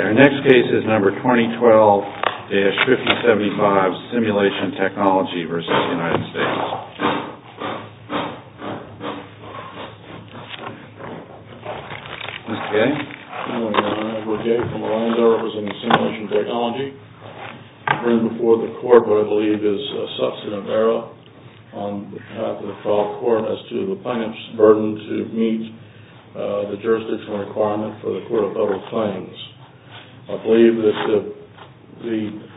Our next case is number 2012-5075 SIMULATION TECHNOLOGY v. United States. I'm Edward Gay from Orlando representing SIMULATION TECHNOLOGY. I bring before the court what I believe is a substantive error on behalf of the trial court as to the plaintiff's burden to meet the jurisdictional requirement for the court of federal claims. I believe that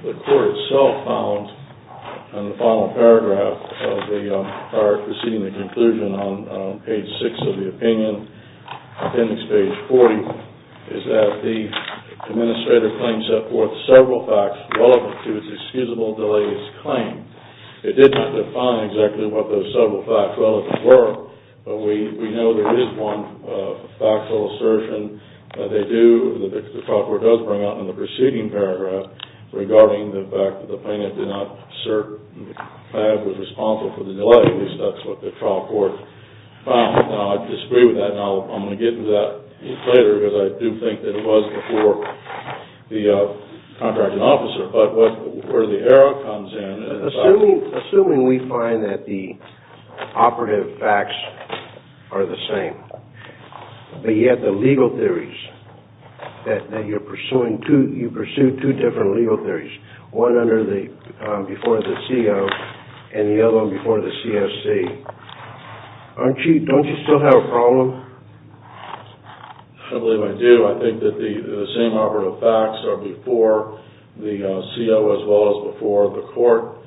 the court itself found in the final paragraph preceding the conclusion on page 6 of the opinion, appendix page 40, is that the administrator claimed to have set forth several facts relevant to his excusable delays claim. It did not define exactly what those several facts relevant were, but we know there is one factual assertion that they do, that the trial court does bring out in the preceding paragraph regarding the fact that the plaintiff did not assert that he was responsible for the delay. At least that's what the trial court found. I disagree with that. I'm going to get into that a little later because I do think that it was before the contracting officer, but where the error comes in... Do you still have a problem? I believe I do. I think that the same operative facts are before the CO as well as before the court.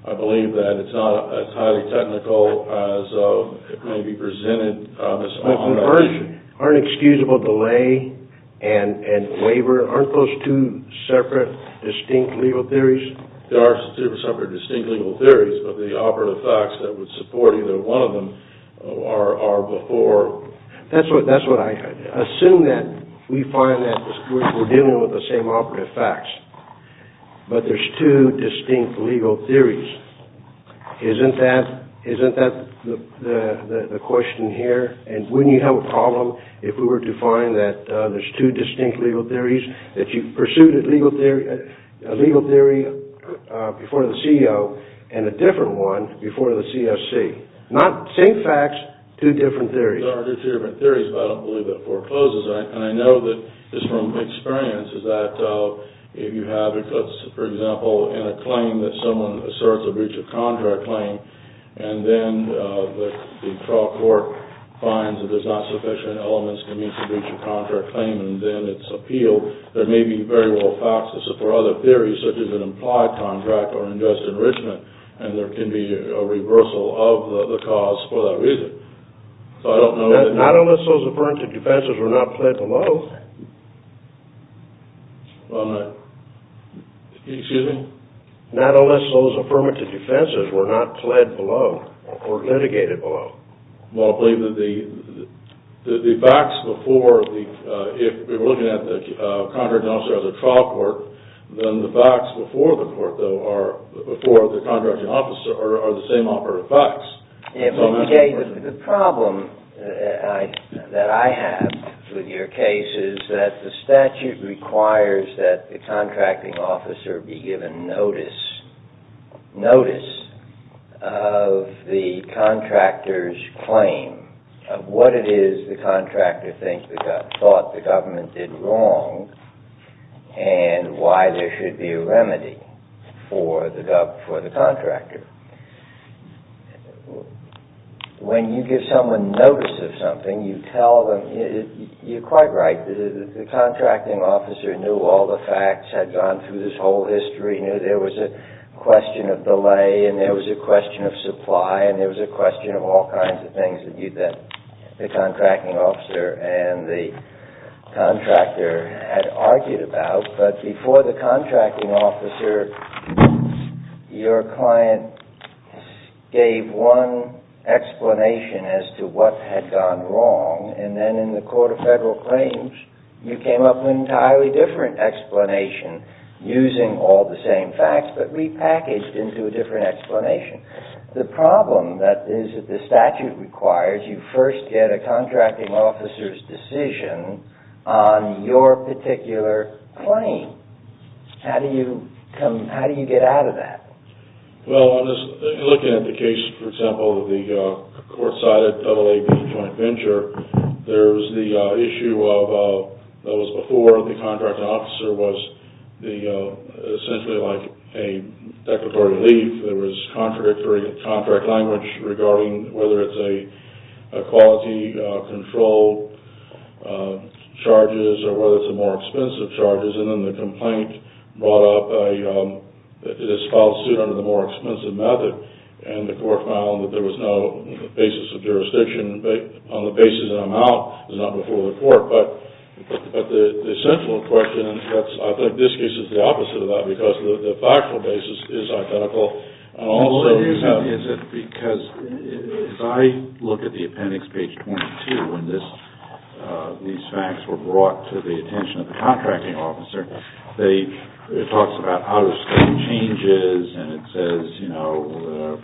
I believe that it's not as highly technical as it may be presented. Aren't excusable delay and waiver, aren't those two separate distinct legal theories? There are separate distinct legal theories, but the operative facts that would support either one of them are before... That's what I assume that we find that we're dealing with the same operative facts, but there's two distinct legal theories. Isn't that the question here? Wouldn't you have a problem if we were to find that there's two distinct legal theories, that you pursued a legal theory before the CO and a different one before the CSC? Not the same facts, two different theories. There are two different theories, but I don't believe that forecloses. I know that just from experience is that if you have, for example, in a claim that someone asserts a breach of contract claim, and then the trial court finds that there's not sufficient elements to meet the breach of contract claim and then it's appealed, there may be very well facts that support other theories such as an implied contract or unjust enrichment, and there can be a reversal of the cause for that reason. Not unless those affirmative defenses were not pled below. Excuse me? Not unless those affirmative defenses were not pled below or litigated below. Well, I believe that the facts before, if we're looking at the contracting officer or the trial court, then the facts before the court, though, before the contracting officer are the same operative facts. The problem that I have with your case is that the statute requires that the contracting officer be given notice, notice of the contractor's claim of what it is the contractor thought the government did wrong and why there should be a remedy for the contractor. When you give someone notice of something, you tell them, you're quite right, the contracting officer knew all the facts, had gone through this whole history, knew there was a question of delay and there was a question of supply and there was a question of all kinds of things that the contracting officer and the contractor had argued about, but before the contracting officer, your client gave one explanation as to what had gone wrong and then in the court of federal claims, you came up with an entirely different explanation using all the same facts but repackaged into a different explanation. The problem that is that the statute requires you first get a contracting officer's decision on your particular claim. How do you get out of that? Well, if you look at the case, for example, of the court-sided AAB joint venture, there's the issue of what was before the contracting officer was essentially like a declaratory relief. There was contradictory contract language regarding whether it's a quality control charges or whether it's a more expensive charges and then the complaint brought up that it is filed suit under the more expensive method and the court found that there was no basis of jurisdiction but on the basis that I'm out, it's not before the court. But the central question, I think this case is the opposite of that because the factual basis is identical. Also, is it because if I look at the appendix, page 22, when these facts were brought to the attention of the contracting officer, it talks about out-of-state changes and it says, you know,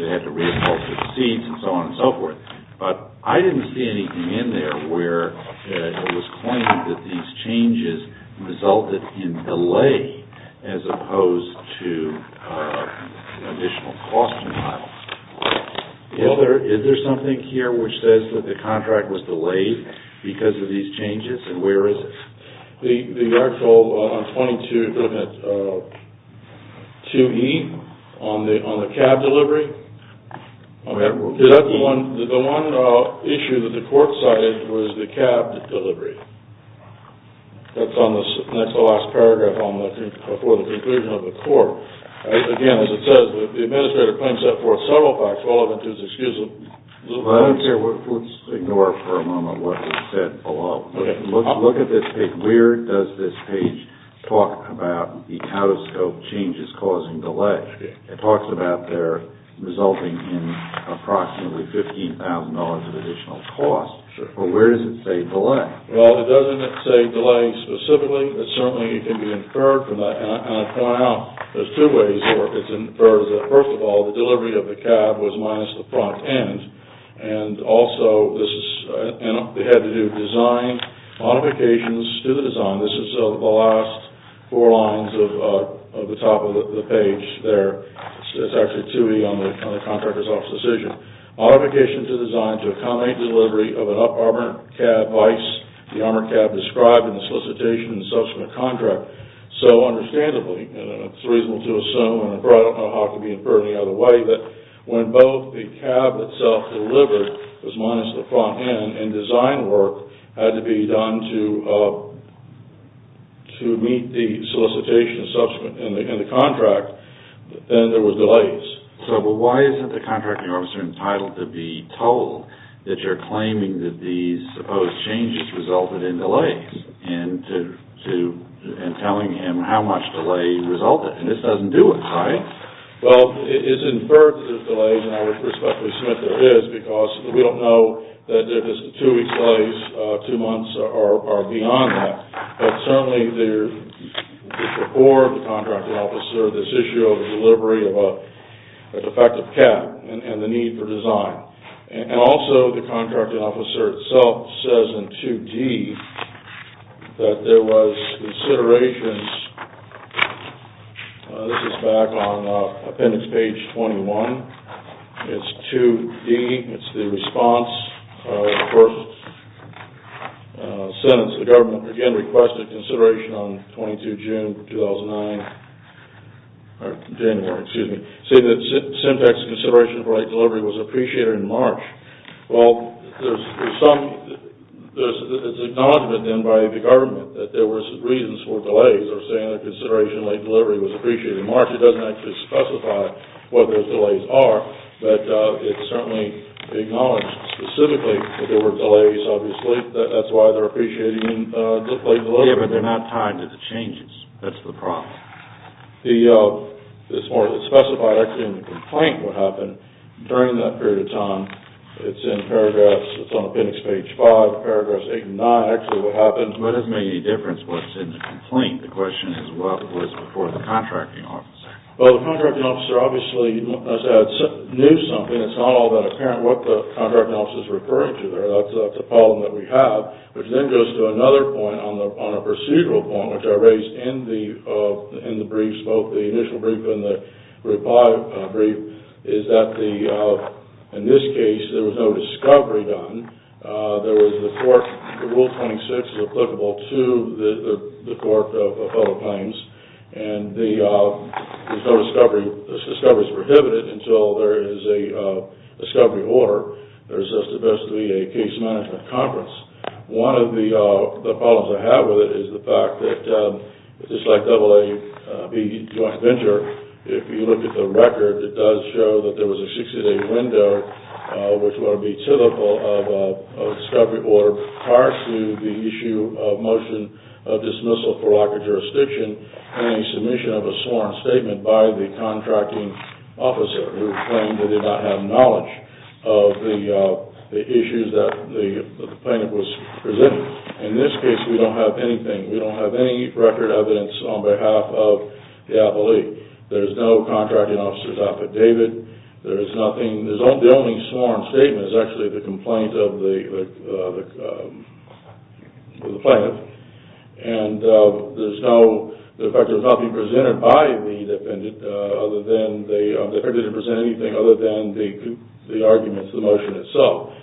they had to re-cultivate seeds and so on and so forth. But I didn't see anything in there where it was claimed that these changes resulted in delay as opposed to an additional cost denial. Is there something here which says that the contract was delayed because of these changes and where is it? The article on 22.2e on the cab delivery? Is that the one issue that the court cited was the cab delivery? That's the last paragraph for the conclusion of the court. Again, as it says, the administrator claims that for several facts, all of it is excusable. Let's ignore for a moment what he said below. Look at this page. Where does this page talk about the out-of-scope changes causing delay? It talks about their resulting in approximately $15,000 of additional costs. But where does it say delay? Well, it doesn't say delay specifically, but certainly it can be inferred from that, and I point out there's two ways in which it's inferred. First of all, the delivery of the cab was minus the front end, and also they had to do design modifications to the design. This is the last four lines of the top of the page there. It's actually 2e on the contractor's office decision. Modifications to design to accommodate delivery of an up-armored cab vice, the armored cab described in the solicitation and subsequent contract. So, understandably, it's reasonable to assume, and I don't know how it could be inferred any other way, that when both the cab itself delivered was minus the front end, and design work had to be done to meet the solicitation and subsequent contract, then there were delays. So, why is it the contracting officer entitled to be told that you're claiming that these supposed changes resulted in delays, and telling him how much delay resulted? And this doesn't do it, right? Well, it's inferred that there's delays, and I would respectfully submit there is, because we don't know that there's two weeks delays, two months, or beyond that. But certainly there's before the contracting officer this issue of the delivery of an effective cab and the need for design. And also the contracting officer itself says in 2d that there was considerations. This is back on appendix page 21. It's 2d. It's the response of the first sentence. The government, again, requested consideration on 22 June 2009, or January, excuse me, saying that syntax consideration for light delivery was appreciated in March. Well, there's some... It's acknowledged then by the government that there were some reasons for delays, or saying that consideration of light delivery was appreciated in March. It doesn't actually specify what those delays are, but it's certainly acknowledged specifically that there were delays, obviously. That's why they're appreciating light delivery. Yeah, but they're not tied to the changes. That's the problem. It's more than specified, actually, in the complaint what happened during that period of time. It's in paragraphs. It's on appendix page 5, paragraphs 8 and 9, actually, what happened. It doesn't make any difference what's in the complaint. The question is what was before the contracting officer. Well, the contracting officer obviously, as I said, knew something. It's not all that apparent what the contracting officer is referring to there. That's a problem that we have, which then goes to another point on a procedural point, which I raised in the briefs, both the initial brief and the reply brief, is that in this case there was no discovery done. There was the court, Rule 26 is applicable to the court of federal claims, and there's no discovery. This discovery is prohibited until there is a discovery order. There's supposed to be a case management conference. One of the problems I have with it is the fact that, just like AAB Joint Venture, if you look at the record, it does show that there was a 60-day window, which would be typical of a discovery order, prior to the issue of motion of dismissal for lack of jurisdiction, and a submission of a sworn statement by the contracting officer, who claimed that they did not have knowledge of the issues that the plaintiff was presenting. In this case, we don't have anything. We don't have any record evidence on behalf of the appellee. There's no contracting officer's affidavit. The only sworn statement is actually the complaint of the plaintiff, and the fact that it was not being presented by the defendant, the defendant didn't present anything other than the arguments, the motion itself,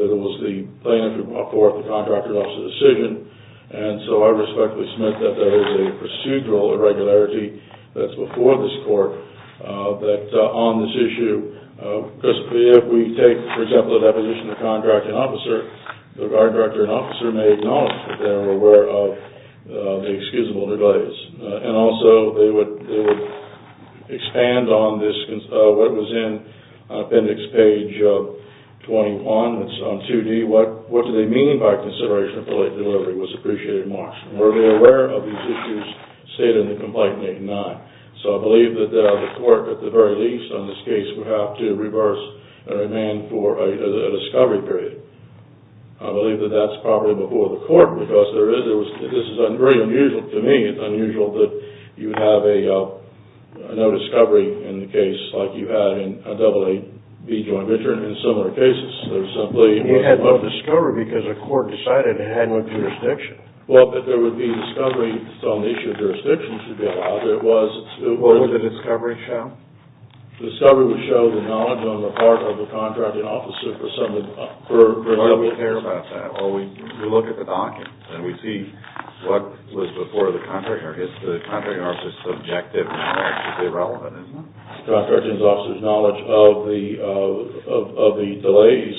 that it was the plaintiff who brought forth the contracting officer's decision, and so I respectfully submit that there is a procedural irregularity that's before this court, that on this issue, if we take, for example, a deposition of contracting officer, the guard director and officer may acknowledge that they were aware of the excusable delays, and also they would expand on this, what was in appendix page 21, it's on 2D, what do they mean by consideration that the late delivery was appreciated in March? Were they aware of these issues stated in the complaint made in that? So I believe that the court, at the very least on this case, would have to reverse the demand for a discovery period. I believe that that's probably before the court, because there is, this is very unusual to me, it's unusual that you have a no discovery in the case like you had in a double A, B joint venture, and in similar cases, there's simply... You had no discovery because the court decided it had no jurisdiction. Well, but there would be discovery, so an issue of jurisdiction should be allowed. What would the discovery show? The discovery would show the knowledge on the part of the contracting officer for some of the... Why do we care about that? Well, we look at the documents, and we see what was before the contract, or if the contracting officer's subjective knowledge is irrelevant, isn't it? The contracting officer's knowledge of the delays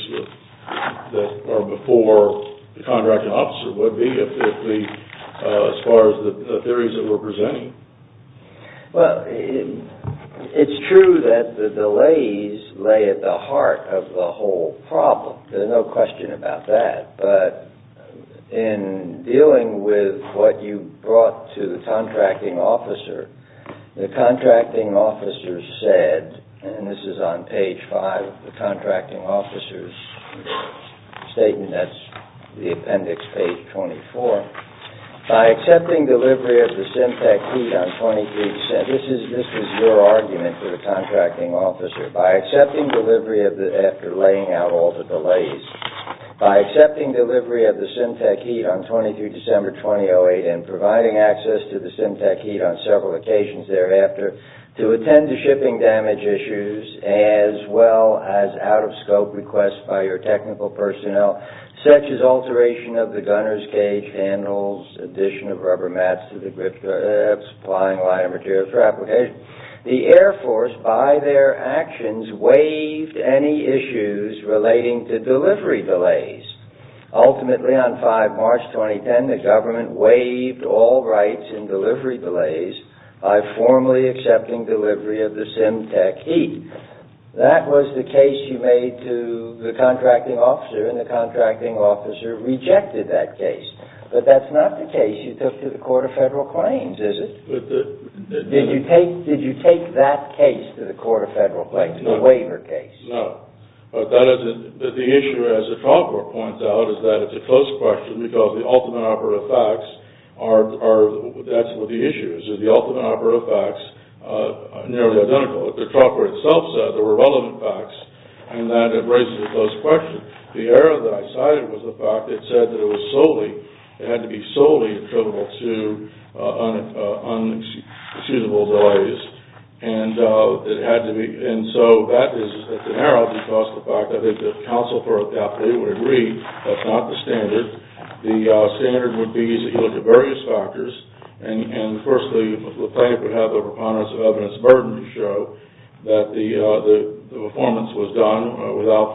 that are before the contracting officer would be, as far as the theories that we're presenting. Well, it's true that the delays lay at the heart of the whole problem. There's no question about that, but in dealing with what you brought to the contracting officer, the contracting officer said, and this is on page 5 of the contracting officer's statement, that's the appendix, page 24, by accepting delivery of the Simtech heat on 23 December... This was your argument for the contracting officer. By accepting delivery after laying out all the delays. By accepting delivery of the Simtech heat on 23 December 2008 and providing access to the Simtech heat on several occasions thereafter to attend to shipping damage issues as well as out-of-scope requests by your technical personnel, such as alteration of the gunner's cage handles, addition of rubber mats to the grip straps, supplying wire materials for application. The Air Force, by their actions, waived any issues relating to delivery delays. Ultimately, on 5 March 2010, the government waived all rights in delivery delays by formally accepting delivery of the Simtech heat. That was the case you made to the contracting officer, and the contracting officer rejected that case. But that's not the case you took to the Court of Federal Claims, is it? Did you take that case to the Court of Federal Claims, the waiver case? No. But the issue, as the trough board points out, is that it's a close question because the ultimate operative facts are... That's what the issue is, is the ultimate operative facts are nearly identical. What the trough board itself said, there were relevant facts, and that it raises a close question. The error that I cited was the fact that it said that it was solely, it had to be solely attributable to unsuitable delays. And it had to be... And so that is an error because of the fact that I think the counsel for it would agree that's not the standard. The standard would be that you look at various factors, and, firstly, the plaintiff would have a preponderance of evidence burden to show that the performance was done without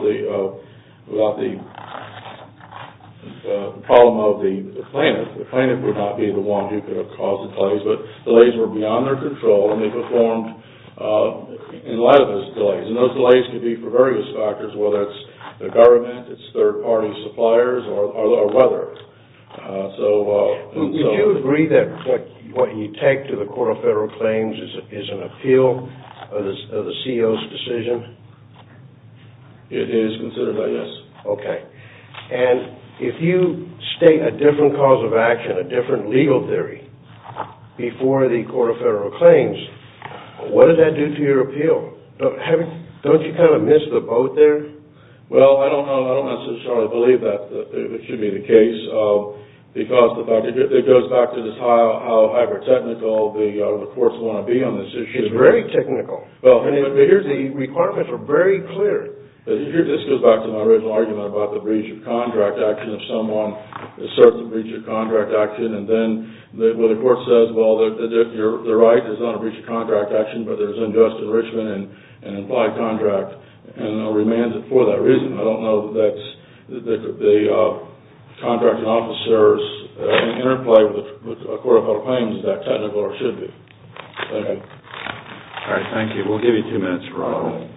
the problem of the plaintiff. The plaintiff would not be the one who could have caused the delays, but delays were beyond their control, and they performed in light of those delays. And those delays could be for various factors, whether that's the government, it's third-party suppliers, or weather. Would you agree that what you take to the Court of Federal Claims is an appeal of the CO's decision? It is considered by yes. Okay. And if you state a different cause of action, a different legal theory, before the Court of Federal Claims, what does that do to your appeal? Don't you kind of miss the boat there? Well, I don't necessarily believe that it should be the case, because it goes back to how hyper-technical the courts want to be on this issue. It's very technical. The requirements are very clear. This goes back to my original argument about the breach of contract action if someone asserts a breach of contract action, and then the court says, well, you're right, it's not a breach of contract action, but there's unjust enrichment and implied contract, and I'll remand it for that reason. I don't know that there could be contracting officers in interplay with the Court of Federal Claims, is that technical or should it be? Okay. All right, thank you. We'll give you two minutes, Ronald.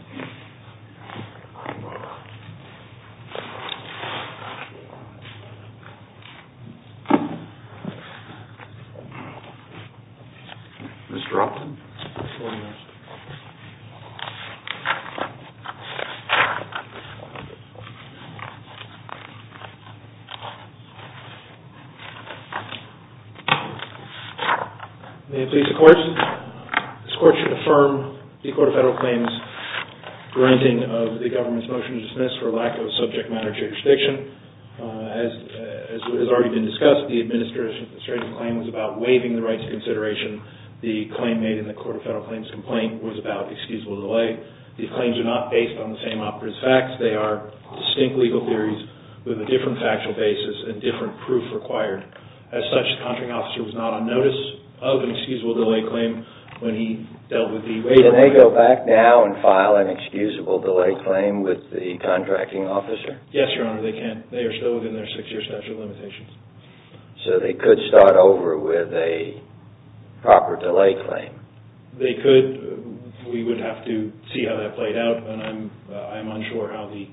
Mr. Upton? Thank you. May it please the Court. This Court should affirm the Court of Federal Claims granting of the government's motion to dismiss for lack of subject matter jurisdiction. As has already been discussed, the administrative claim was about waiving the rights of consideration. The claim made in the Court of Federal Claims complaint was about excusable delay. These claims are not based on the same operative facts. They are distinct legal theories with a different factual basis and different proof required. As such, the contracting officer was not on notice of an excusable delay claim when he dealt with the waiver. Can they go back now and file an excusable delay claim with the contracting officer? Yes, Your Honor, they can. They are still within their six-year statute of limitations. So they could start over with a proper delay claim? They could. We would have to see how that played out, and I'm unsure how the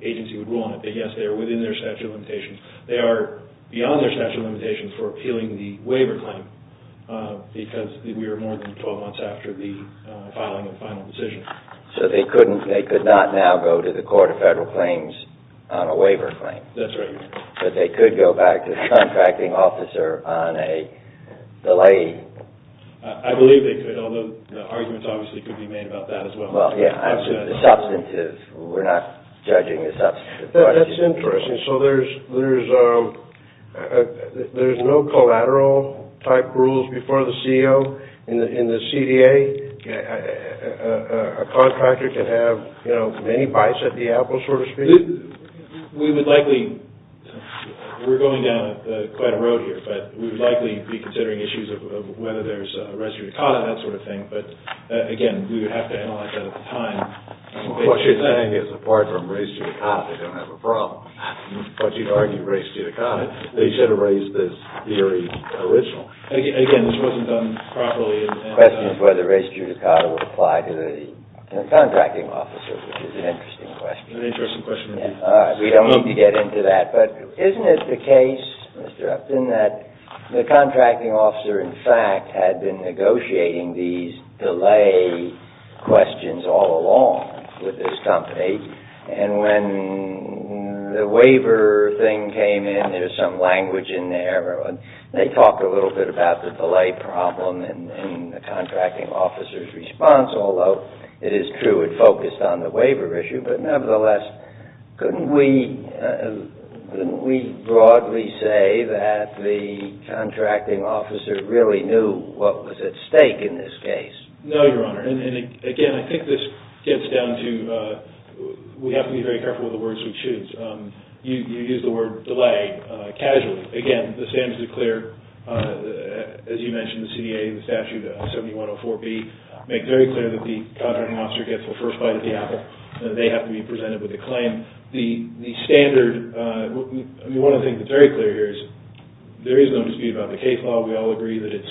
agency would rule on it. But yes, they are within their statute of limitations. They are beyond their statute of limitations for appealing the waiver claim because we are more than 12 months after the filing of the final decision. So they could not now go to the Court of Federal Claims on a waiver claim? That's right, Your Honor. But they could go back to the contracting officer on a delay? I believe they could, although the arguments obviously could be made about that as well. Well, yes, the substance is we're not judging the substance. That's interesting. So there's no collateral-type rules before the CEO? In the CDA, a contractor can have many bites at the apple, so to speak? We would likely, we're going down quite a road here, but we would likely be considering issues of whether there's res judicata, that sort of thing. But, again, we would have to analyze that at the time. What you're saying is apart from res judicata, they don't have a problem. But you'd argue res judicata. They should have raised this theory original. Again, this wasn't done properly. The question is whether res judicata would apply to the contracting officer, which is an interesting question. An interesting question indeed. All right, we don't need to get into that. But isn't it the case, Mr. Upton, that the contracting officer, in fact, had been negotiating these delay questions all along with this company, and when the waiver thing came in, there's some language in there. They talk a little bit about the delay problem in the contracting officer's response, although it is true it focused on the waiver issue. But, nevertheless, couldn't we broadly say that the contracting officer really knew what was at stake in this case? No, Your Honor. And, again, I think this gets down to we have to be very careful with the words we choose. You use the word delay casually. Again, the standards are clear. As you mentioned, the CDA and the statute 7104B make very clear that the contracting officer gets the first bite of the apple. They have to be presented with a claim. The standard, one of the things that's very clear here is there is no dispute about the case law. We all agree that it's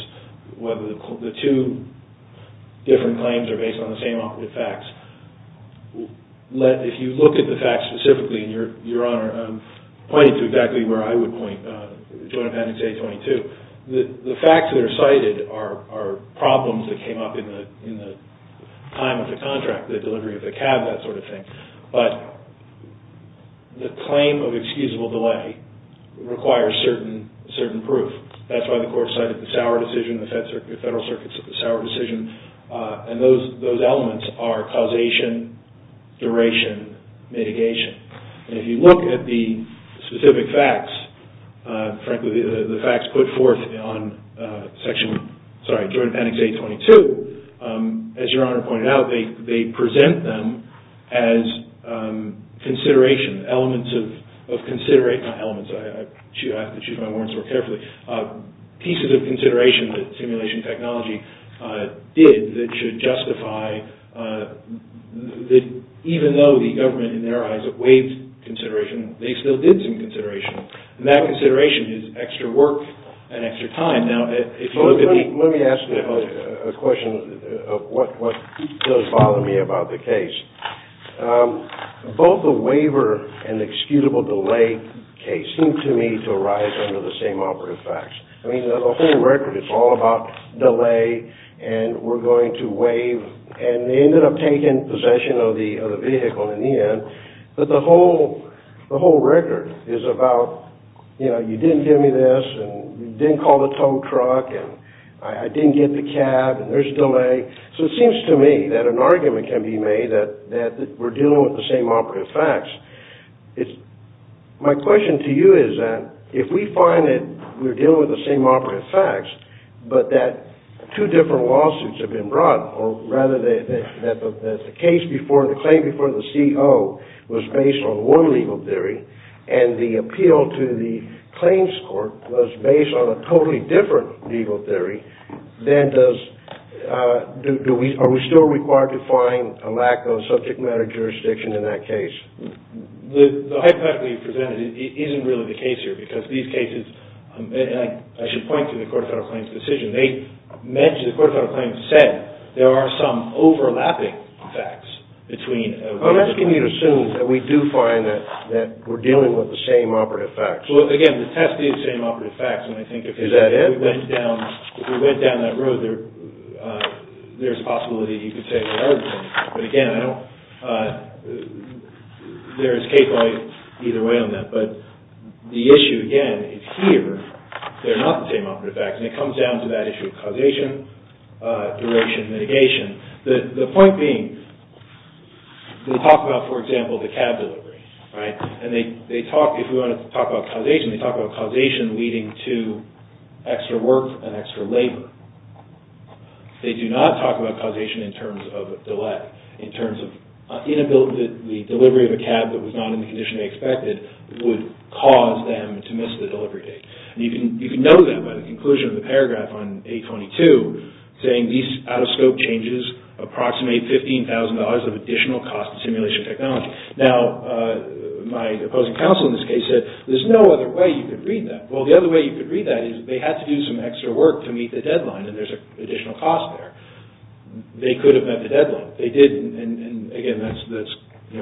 whether the two different claims are based on the same operative facts. If you look at the facts specifically, and, Your Honor, I'm pointing to exactly where I would point, Joint Appendix A-22, the facts that are cited are problems that came up in the time of the contract, the delivery of the cab, that sort of thing. But the claim of excusable delay requires certain proof. That's why the Court cited the Sauer decision, the Federal Circuit's Sauer decision, and those elements are causation, duration, mitigation. And if you look at the specific facts, frankly, the facts put forth on Joint Appendix A-22, as Your Honor pointed out, they present them as consideration, elements of consideration, not elements, I have to choose my words more carefully, pieces of consideration that simulation technology did that should justify that even though the government, in their eyes, waived consideration, they still did some consideration. And that consideration is extra work and extra time. Let me ask you a question of what does bother me about the case. Both the waiver and the excusable delay case seem to me to arise under the same operative facts. I mean, the whole record is all about delay and we're going to waive, and they ended up taking possession of the vehicle in the end, but the whole record is about, you know, you didn't give me this and you didn't call the tow truck and I didn't get the cab and there's delay. So it seems to me that an argument can be made that we're dealing with the same operative facts. My question to you is that if we find that we're dealing with the same operative facts but that two different lawsuits have been brought, or rather that the claim before the CO was based on one legal theory and the appeal to the claims court was based on a totally different legal theory, then are we still required to find a lack of subject matter jurisdiction in that case? The hypothetical you presented isn't really the case here because these cases, and I should point to the court-filed claims decision, they mentioned, the court-filed claims said there are some overlapping facts between the two. I'm asking you to assume that we do find that we're dealing with the same operative facts. Well, again, the test is the same operative facts and I think if we went down that road, there's a possibility you could say the other thing. But again, I don't, there's a case law either way on that. But the issue again is here, they're not the same operative facts and it comes down to that issue of causation, duration, mitigation. The point being, they talk about, for example, the cab delivery, right? And they talk, if we want to talk about causation, they talk about causation leading to extra work and extra labor. They do not talk about causation in terms of delay, in terms of the delivery of a cab that was not in the condition they expected would cause them to miss the delivery date. And you can know that by the conclusion of the paragraph on 822, saying these out-of-scope changes approximate $15,000 of additional cost to simulation technology. Now, my opposing counsel in this case said, there's no other way you could read that. Well, the other way you could read that is they have to do some extra work to meet the deadline and there's an additional cost there. They could have met the deadline. They didn't and again, that's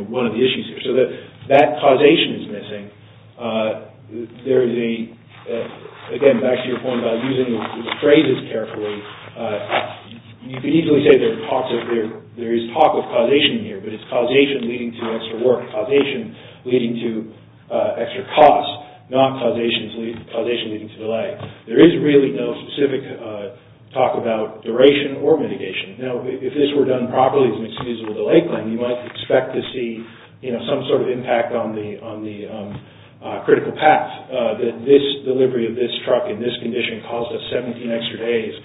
one of the issues here. So that causation is missing. There is a, again, back to your point about using the phrases carefully, you can easily say there is talk of causation here, but it's causation leading to extra work, causation leading to extra cost, not causation leading to delay. There is really no specific talk about duration or mitigation. Now, if this were done properly as an excusable delay claim, you might expect to see some sort of impact on the critical path, that this delivery of this truck in this condition caused us 17 extra days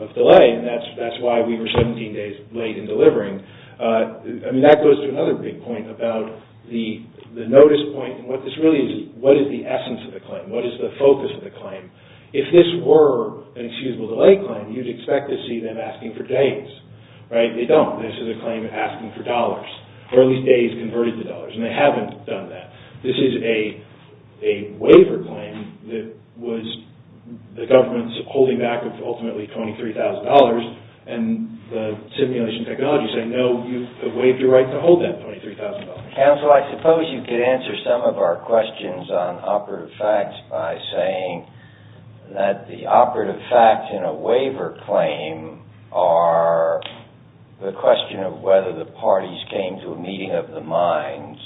of delay and that's why we were 17 days late in delivering. I mean, that goes to another big point about the notice point and what this really is, what is the essence of the claim? What is the focus of the claim? If this were an excusable delay claim, you'd expect to see them asking for days, right? They don't. This is a claim asking for dollars. Early days converted to dollars and they haven't done that. This is a waiver claim that was the government's holding back of ultimately $23,000 and the simulation technology saying, no, you've waived your right to hold that $23,000. Counsel, I suppose you could answer some of our questions on operative facts by saying that the operative facts in a waiver claim are the question of whether the parties came to a meeting of the minds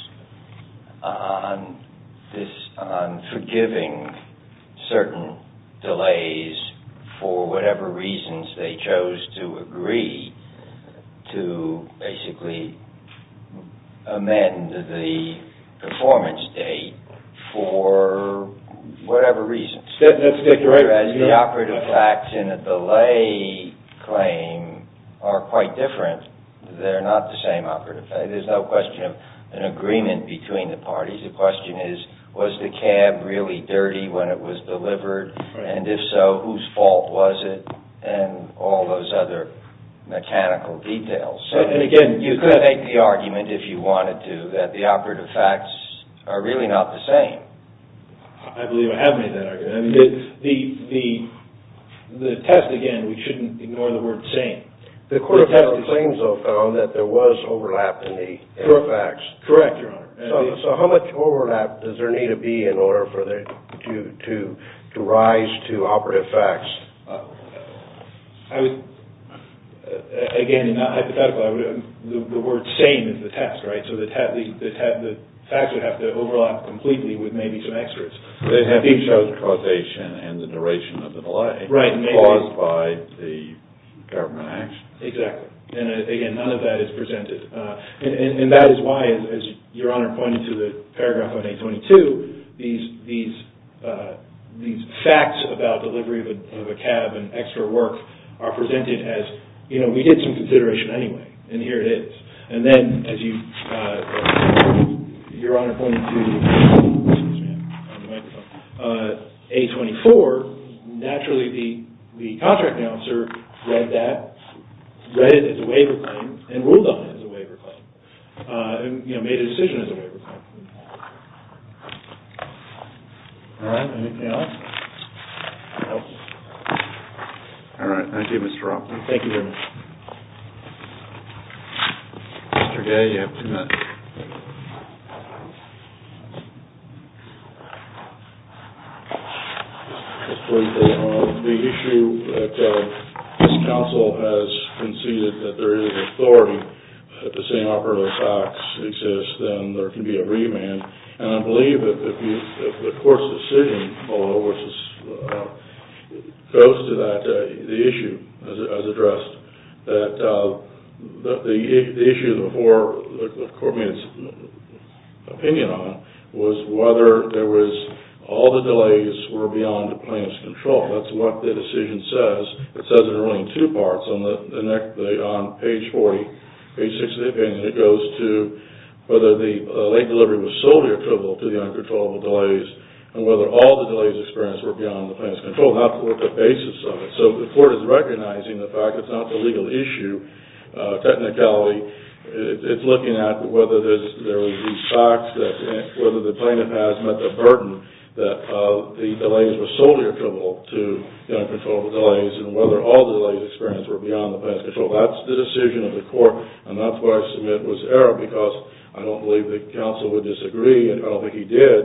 on forgiving certain delays for whatever reasons they chose to agree to basically amend the performance date for whatever reason. As the operative facts in a delay claim are quite different, they're not the same operative facts. There's no question of an agreement between the parties. The question is, was the cab really dirty when it was delivered and if so, whose fault was it and all those other mechanical details. Again, you could make the argument if you wanted to that the operative facts are really not the same. I believe I have made that argument. The test, again, we shouldn't ignore the word same. The court test claims, though, found that there was overlap in the facts. Correct, Your Honor. So how much overlap does there need to be in order for it to rise to operative facts? I would, again, not hypothetically, the word same is the test, right? So the facts would have to overlap completely with maybe some extras. It shows causation and the duration of the delay caused by the government action. Exactly. Again, none of that is presented. And that is why, as Your Honor pointed to the paragraph on A22, these facts about delivery of a cab and extra work are presented as, you know, we did some consideration anyway and here it is. And then, as Your Honor pointed to, A24, naturally the contract announcer read that, read it as a waiver claim and ruled on it as a waiver claim, you know, made a decision as a waiver claim. All right. Anything else? No. All right. Thank you, Mr. Rothman. Mr. Gay, you have two minutes. The issue that this counsel has conceded that there is authority that the same operative facts exist, then there can be a remand. And I believe that the court's decision goes to that issue as addressed, that the issue before the court made its opinion on it was whether there was all the delays were beyond the plaintiff's control. That's what the decision says. It says it in only two parts on page 40, page 60 of the opinion. It goes to whether the late delivery was solely equivalent to the uncontrollable delays and whether all the delays experienced were beyond the plaintiff's control. How to work the basis of it. So the court is recognizing the fact it's not a legal issue. Technically, it's looking at whether there were these facts that whether the plaintiff has met the burden that the delays were solely equivalent to the uncontrollable delays and whether all the delays experienced were beyond the plaintiff's control. That's the decision of the court, and that's why I submit it was error because I don't believe the counsel would disagree, and I don't think he did,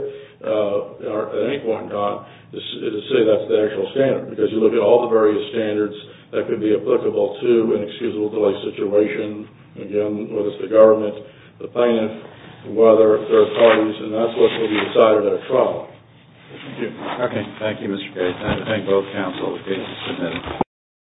at any point in time, to say that's the actual standard because you look at all the various standards that could be applicable to an excusable delay situation, again, whether it's the government, the plaintiff, whether there are parties, and that's what will be decided at a trial. Thank you. Okay. Thank you, Mr. Gates. I thank both counsel for submitting.